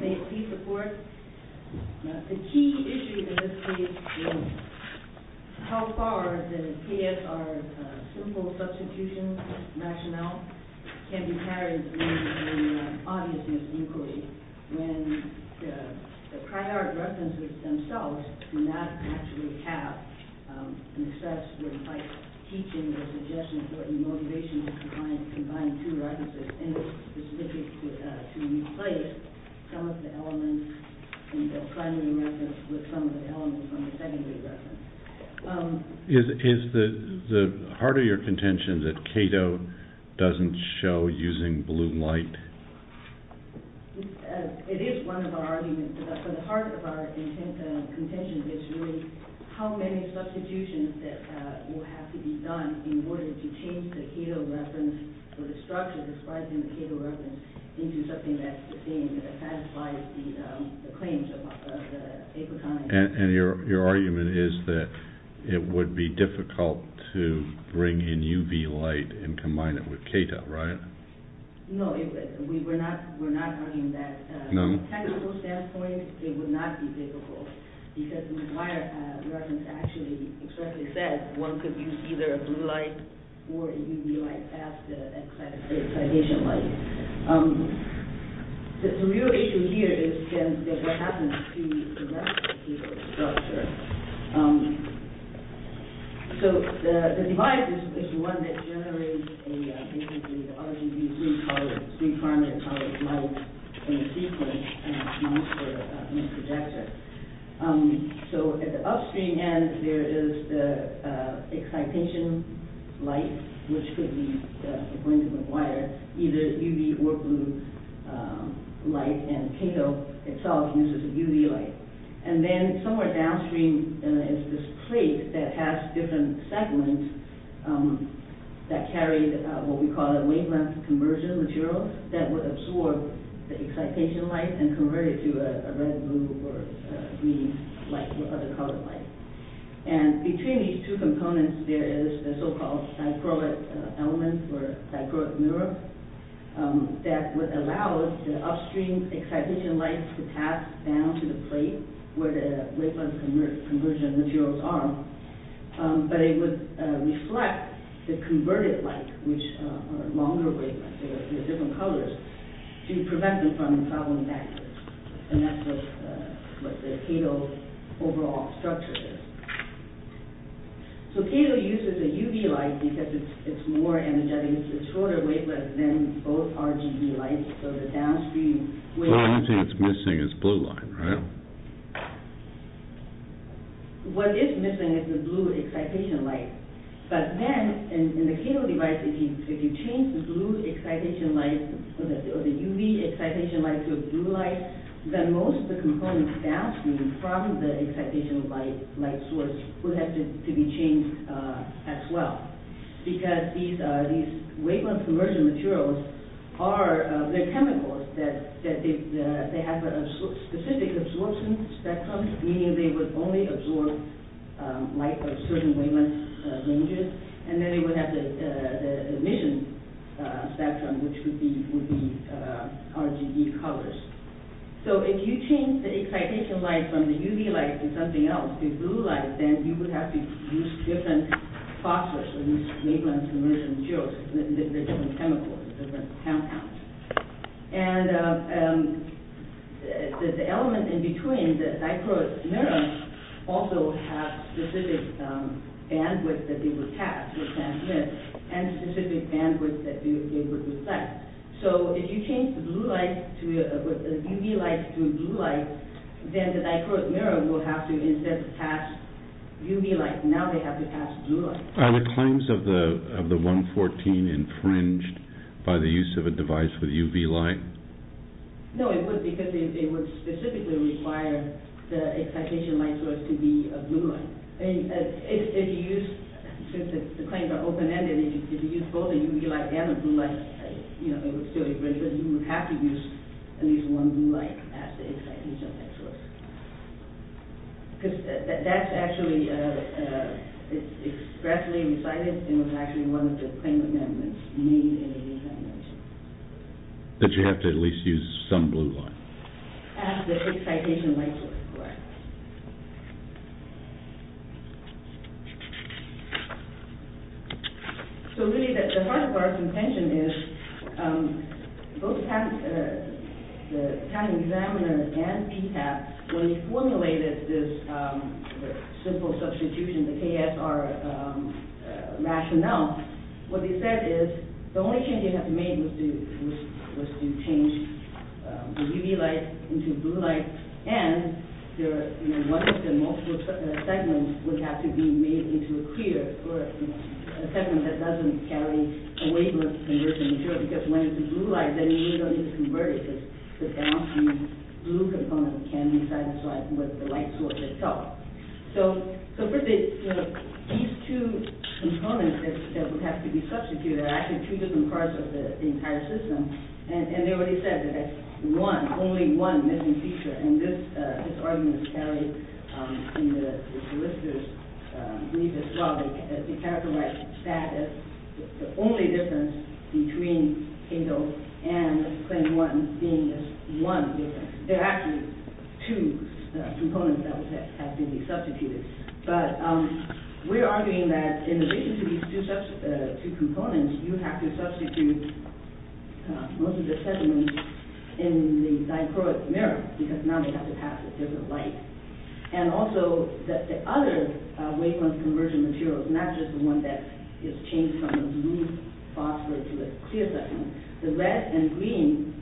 May it please the court, the key issue in this case is how far the PSR's simple substitution rationale can be carried in the audience's eucalyptus. When the prior references themselves do not actually have an assessment like teaching the suggestion for the motivation to combine two references and it's specific to replace some of the elements in the primary reference with some of the elements on the secondary reference. Is the heart of your contention that Cato doesn't show using blue light? It is one of our arguments, but the heart of our contention is really how many substitutions that will have to be done in order to change the Cato reference or the structure describing the Cato reference into something that satisfies the claims of Apotronics. And your argument is that it would be difficult to bring in UV light and combine it with Cato, right? No, we're not arguing that. From a technical standpoint, it would not be difficult because the prior reference actually expressly said one could use either a blue light or a UV light as the excitation light. The real issue here is what happens to the reference structure. The device is the one that generates the RGB three-colored light in the sequence. So at the upstream end, there is the excitation light, which could require either UV or blue light, and Cato itself uses a UV light. And then somewhere downstream is this plate that has different segments that carry what we call a wavelength conversion material that would absorb the excitation light and convert it to a red, blue, or green light or other colored light. And between these two components, there is a so-called diproic element or diproic element that allows the upstream excitation light to pass down to the plate where the wavelength conversion materials are, but it would reflect the converted light, which are longer wavelengths, they're different colors, to prevent them from traveling backwards. And that's what the Cato overall structure is. So Cato uses a UV light because it's more energetic, it's a shorter wavelength than both RGB lights, so the downstream wavelength... So anything that's missing is blue light, right? What is missing is the blue excitation light. But then, in the Cato device, if you change the blue excitation light or the UV excitation light to a blue light, then most of the components downstream from the excitation light source would have to be changed as well. Because these wavelength conversion materials are, they're chemicals, they have a specific absorption spectrum, meaning they would only absorb light of certain wavelength ranges, and then they would have the emission spectrum, which would be RGB colors. So if you change the excitation light from the UV light to something else, to blue light, then you would have to use different phosphors, these wavelength conversion materials. They're different chemicals, they're different compounds. And the element in between, the dichroic neurons, also have specific bandwidth that they would pass, and specific bandwidth that they would reflect. So if you change the UV light to a blue light, then the dichroic neuron will have to instead pass UV light. Now they have to pass blue light. Are the claims of the 114 infringed by the use of a device with UV light? No, it wouldn't, because it would specifically require the excitation light source to be a blue light. If you use, since the claims are open-ended, if you use both a UV light and a blue light, it would still be infringed, but you would have to use at least one blue light as the excitation light source. Because that's actually, it's expressly recited, and was actually one of the claim amendments made in the original amendment. But you have to at least use some blue light. As the excitation light source, correct. So really the heart of our contention is, both the patent examiners and PPAP, when they formulated this simple substitution, the KSR rationale, what they said is, the only change they had to make was to change the UV light into blue light, and one of the multiple segments would have to be made into a clear, or a segment that doesn't carry a wavelength conversion material, because when it's a blue light, then you really don't need to convert it, because the blue component can be satisfied with the light source itself. So really, these two components that would have to be substituted are actually two different parts of the entire system, and they already said that there's one, only one, missing feature, and this argument is carried in the solicitor's brief as well. They characterize that as the only difference between KDO and claim one being this one difference. There are actually two components that have to be substituted, but we're arguing that in addition to these two components, you have to substitute most of the segments in the dichroic mirror, because now they have to pass it. There's a light. And also, the other wavelength conversion material is not just the one that is changed from a blue phosphor to a clear segment. The red and green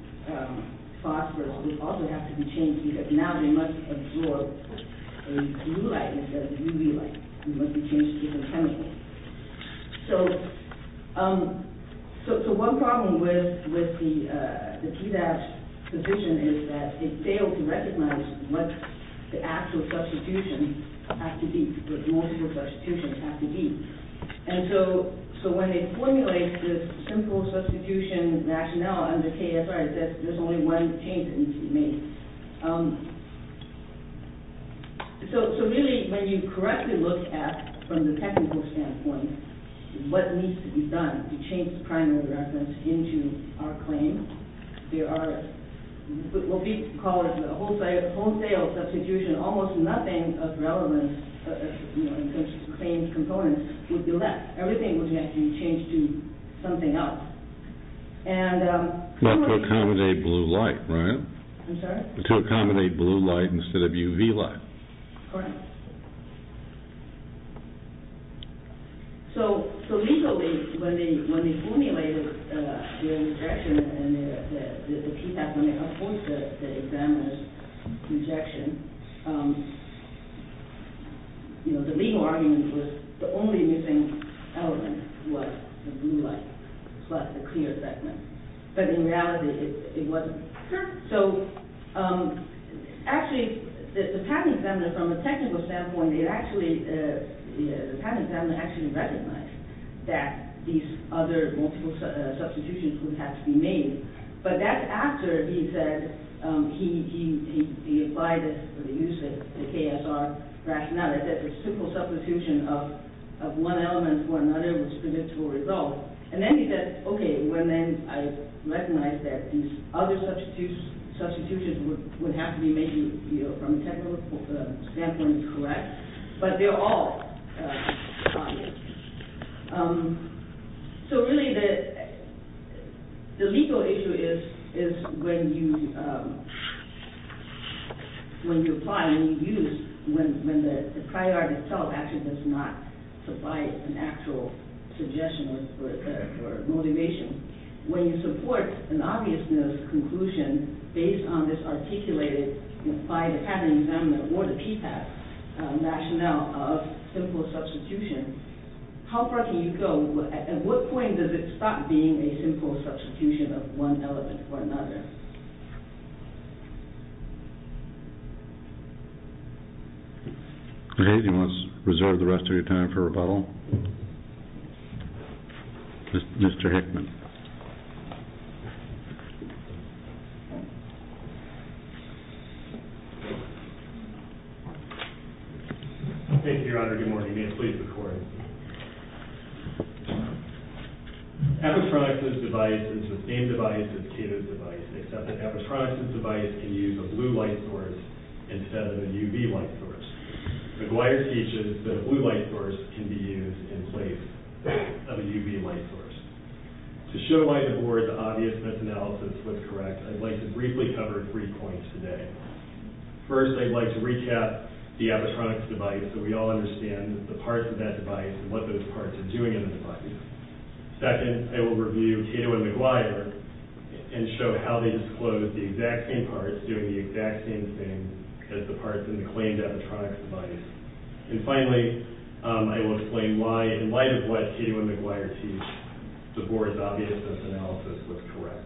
phosphors would also have to be changed, because now they must absorb a blue light instead of a UV light. They must be changed to different chemicals. So one problem with the PDAS position is that they fail to recognize what the actual substitution has to be, what multiple substitutions have to be. And so when they formulate this simple substitution rationale under KSR, there's only one change that needs to be made. So really, when you correctly look at, from the technical standpoint, what needs to be done to change the primary reference into our claim, there are what we call a wholesale substitution. Almost nothing of relevance in terms of claim components would be left. Everything would have to be changed to something else. Not to accommodate blue light, right? I'm sorry? To accommodate blue light instead of UV light. Correct. So legally, when they formulate the objection, and the PDAS, when they have formed the examiner's objection, you know, the legal argument was the only missing element was the blue light plus the clear segment. But in reality, it wasn't. So actually, the patent examiner, from a technical standpoint, the patent examiner actually recognized that these other multiple substitutions would have to be made. But that's after he said, he applied it for the use of the KSR rationale. He said the simple substitution of one element for another was predictable result. And then he said, okay, well then I recognize that these other substitutions would have to be made from a technical standpoint, correct? But they're all obvious. So really, the legal issue is when you apply, when you use, when the prior art itself actually does not provide an actual suggestion or motivation. When you support an obviousness conclusion based on this articulated by the patent examiner or the PDAS rationale of simple substitution, how far can you go? At what point does it stop being a simple substitution of one element for another? Does anyone want to reserve the rest of your time for rebuttal? Mr. Hickman. Thank you, Your Honor. Good morning. May I please record? Apatronix's device is the same device as Cato's device, except that Apatronix's device can use a blue light source instead of a UV light source. McGuire teaches that a blue light source can be used in place of a UV light source. To show why the board's obviousness analysis was correct, I'd like to briefly cover three points today. First, I'd like to recap the Apatronix's device so we all understand the parts of that device and what those parts are doing in the device. Second, I will review Cato and McGuire and show how they disclosed the exact same parts doing the exact same thing as the parts in the claimed Apatronix's device. And finally, I will explain why, in light of what Cato and McGuire teach, the board's obviousness analysis was correct.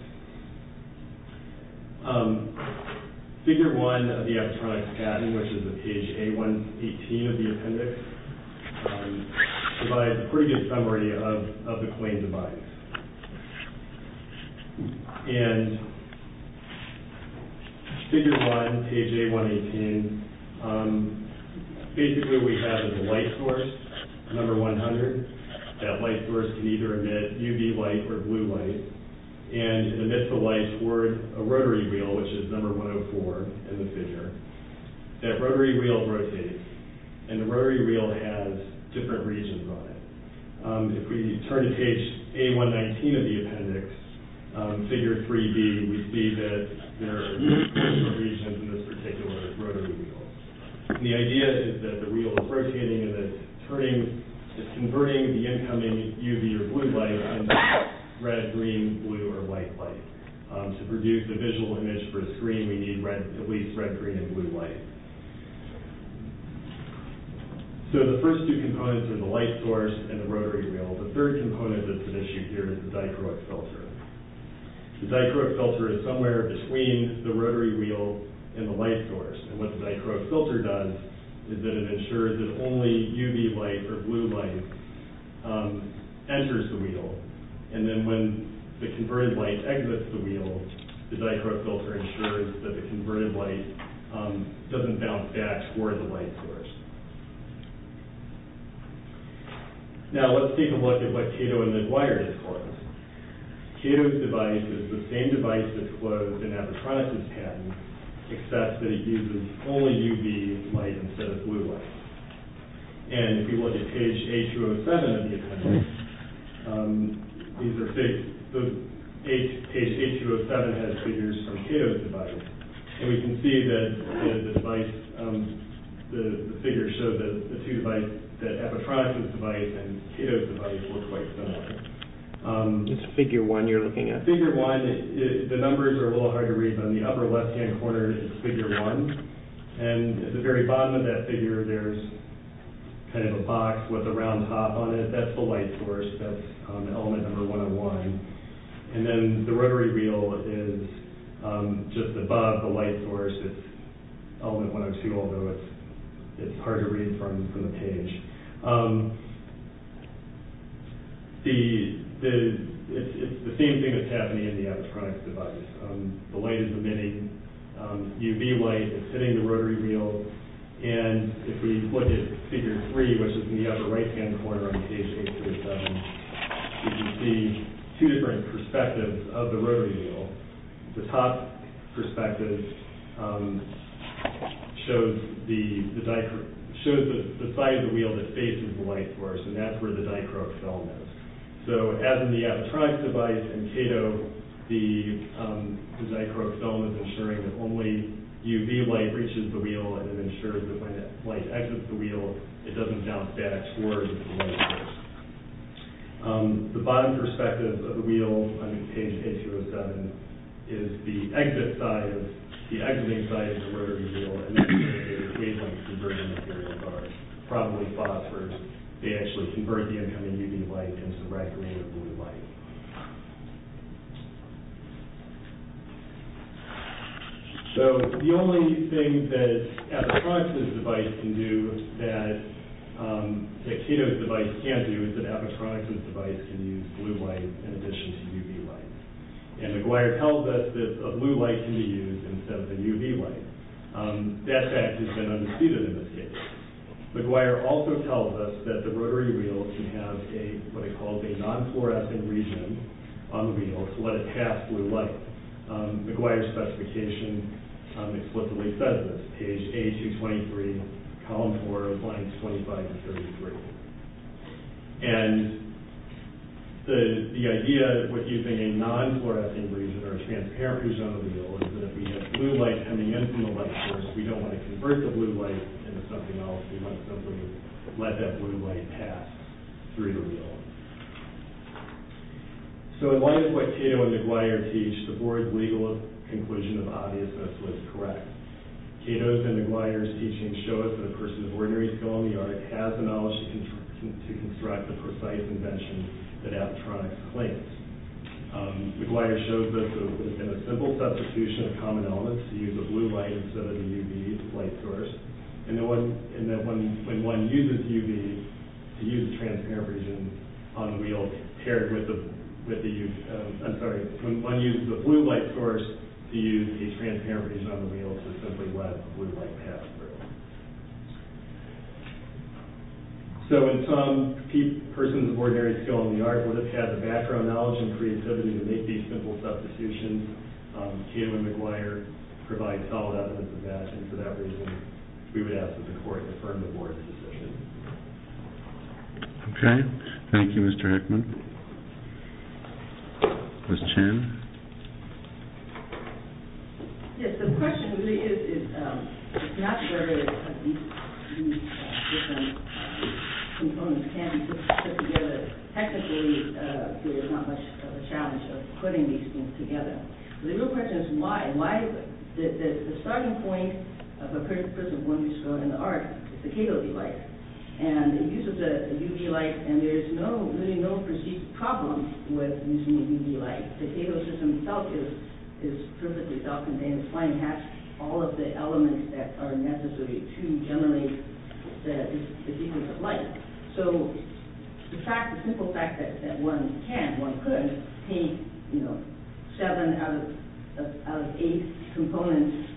Figure 1 of the Apatronix patent, which is at page A118 of the appendix, provides a pretty good summary of the claimed device. And figure 1, page A118, basically what we have is a light source, number 100. That light source can either emit UV light or blue light, and it emits the light toward a rotary wheel, which is number 104 in the figure. That rotary wheel rotates, and the rotary wheel has different regions on it. If we turn to page A119 of the appendix, figure 3B, we see that there are two different regions in this particular rotary wheel. The idea is that the wheel is rotating, and it's converting the incoming UV or blue light into red, green, blue, or white light. To produce a visual image for a screen, we need at least red, green, and blue light. So the first two components are the light source and the rotary wheel. The third component that's an issue here is the dichroic filter. The dichroic filter is somewhere between the rotary wheel and the light source, and what the dichroic filter does is that it ensures that only UV light, or blue light, enters the wheel. And then when the converted light exits the wheel, the dichroic filter ensures that the converted light doesn't bounce back toward the light source. Now let's take a look at what Cato and McGuire did for us. Cato's device is the same device that's closed in Epitronic's patent, except that it uses only UV light instead of blue light. And if you look at page A207 of the appendix, page A207 has figures from Cato's device, and we can see that the figures show that Epitronic's device and Cato's device work quite similarly. It's figure one you're looking at. Figure one, the numbers are a little hard to read, but on the upper left-hand corner is figure one, and at the very bottom of that figure there's kind of a box with a round top on it. That's the light source. That's element number 101. And then the rotary wheel is just above the light source. It's element 102, although it's hard to read from the page. It's the same thing that's happening in the Epitronic's device. The light is emitting UV light that's hitting the rotary wheel, and if we look at figure three, which is in the upper right-hand corner on page A207, we can see two different perspectives of the rotary wheel. The top perspective shows the side of the wheel that faces the light source, and that's where the dichroic film is. So as in the Epitronic's device and Cato, the dichroic film is ensuring that only UV light reaches the wheel and ensures that when that light exits the wheel, it doesn't bounce back towards the light source. The bottom perspective of the wheel on page A207 is the exit side, the exiting side of the wheel, and that's where the incoming UV light comes directly into blue light. So the only thing that Epitronic's device can do that Cato's device can't do is that Epitronic's device can use blue light in addition to UV light. And McGuire tells us that a blue light can be used instead of the UV light. That fact has been understated in this case. McGuire also tells us that the rotary wheel can have what he calls a non-fluorescent region on the wheel to let it pass blue light. McGuire's specification explicitly says this, page A223, column 4, lines 25 and 33. And the idea of using a non-fluorescent region or a transparent region on the wheel is that we have blue light coming in from the light source. We don't want to convert the blue light into something else. We want to simply let that blue light pass through the wheel. So in light of what Cato and McGuire teach, the board's legal conclusion of obviousness was correct. Cato's and McGuire's teachings show us that a person of ordinary skill in the art has the knowledge to construct the precise invention that Epitronic's claims. McGuire shows that it would have been a simple substitution of common elements to use a blue light instead of the UV light source. And that when one uses UV to use a transparent region on the wheel paired with the, I'm sorry, when one uses a blue light source to use a transparent region on the wheel to simply let blue light pass through. So in sum, a person of ordinary skill in the art would have had the background knowledge and creativity to make these simple substitutions. Cato and McGuire provide solid evidence of that. And for that reason, we would ask that the court affirm the board's decision. Okay. Thank you, Mr. Heckman. Ms. Chen. Yes. The question really is, it's not very, these different components can be put together. Technically, there's not much of a challenge of putting these things together. The real question is why. The starting point of a person of ordinary skill in the art is the Cato blue light. And the use of the UV light, and there's really no perceived problem with using the UV light. The Cato system itself is perfectly self-contained. It's fine. It has all of the elements that are necessary to generate the sequence of light. So the fact, the simple fact that one can, one could paint, you know, seven out of eight components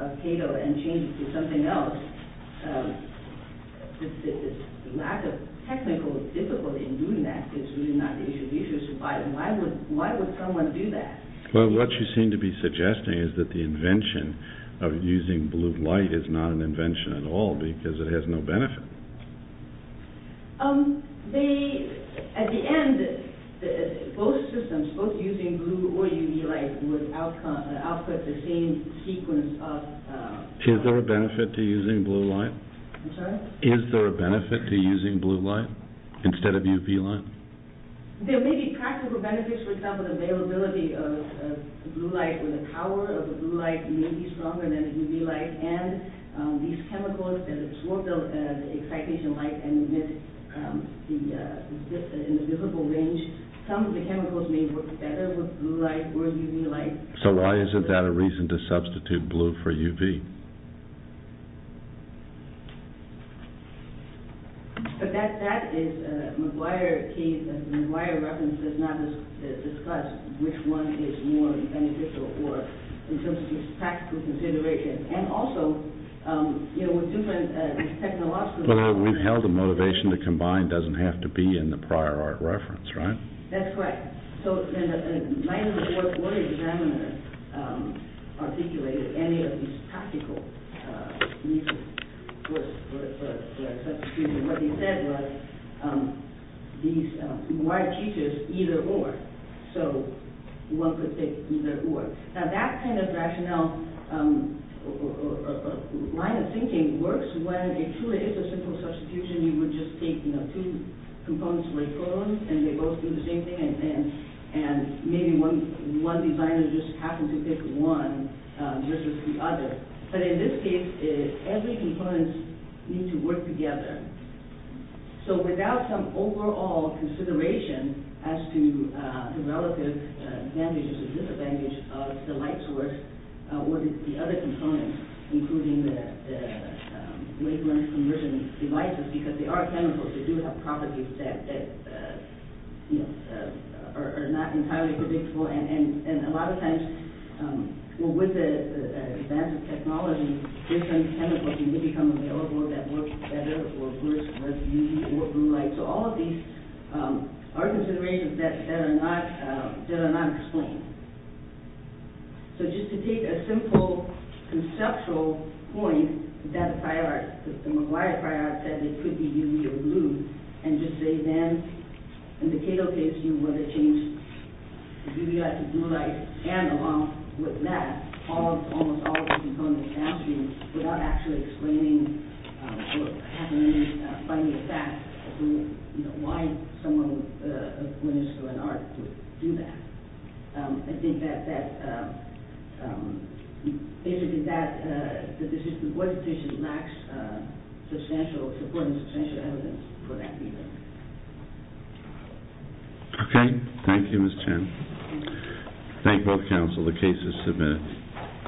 of Cato and change it to something else, the lack of technical difficulty in Why would someone do that? Well, what you seem to be suggesting is that the invention of using blue light is not an invention at all because it has no benefit. At the end, both systems, both using blue or UV light would output the same sequence of light. Is there a benefit to using blue light? I'm sorry? Is there a benefit to using blue light instead of UV light? So why isn't that a reason to substitute blue for UV? But that is a McGuire case. McGuire reference does not discuss which one is more beneficial or in terms of practical consideration. And also, you know, with different technological… But we've held the motivation to combine doesn't have to be in the prior art reference, right? That's right. So then the mind of the board board examiner articulated any of these practical reasons for a substitution. What he said was these McGuire teachers either or. So one could take either or. Now that kind of rationale or line of thinking works when it truly is a simple substitution. You would just take, you know, two components of a photon and they both do the same thing. And maybe one designer just happens to pick one versus the other. But in this case, every component needs to work together. So without some overall consideration as to the relative advantage or disadvantage of the light source or the other components, including the wavelength conversion devices. Because they are chemicals. They do have properties that are not entirely predictable. And a lot of times, well, with the advance of technology, different chemicals may become available that work better or worse versus UV or blue light. So all of these are considerations that are not explained. So just to take a simple conceptual point that the McGuire prior said it could be UV or blue. And just say then, in the Cato case, you would have changed the UV light to blue light. And along with that, almost all of the components downstream without actually explaining or finding a fact as to why someone would do that. I think that basically that decision lacks substantial support and substantial evidence for that either. Okay. Thank you, Ms. Chen. Thank you. Thank both counsel. The case is submitted.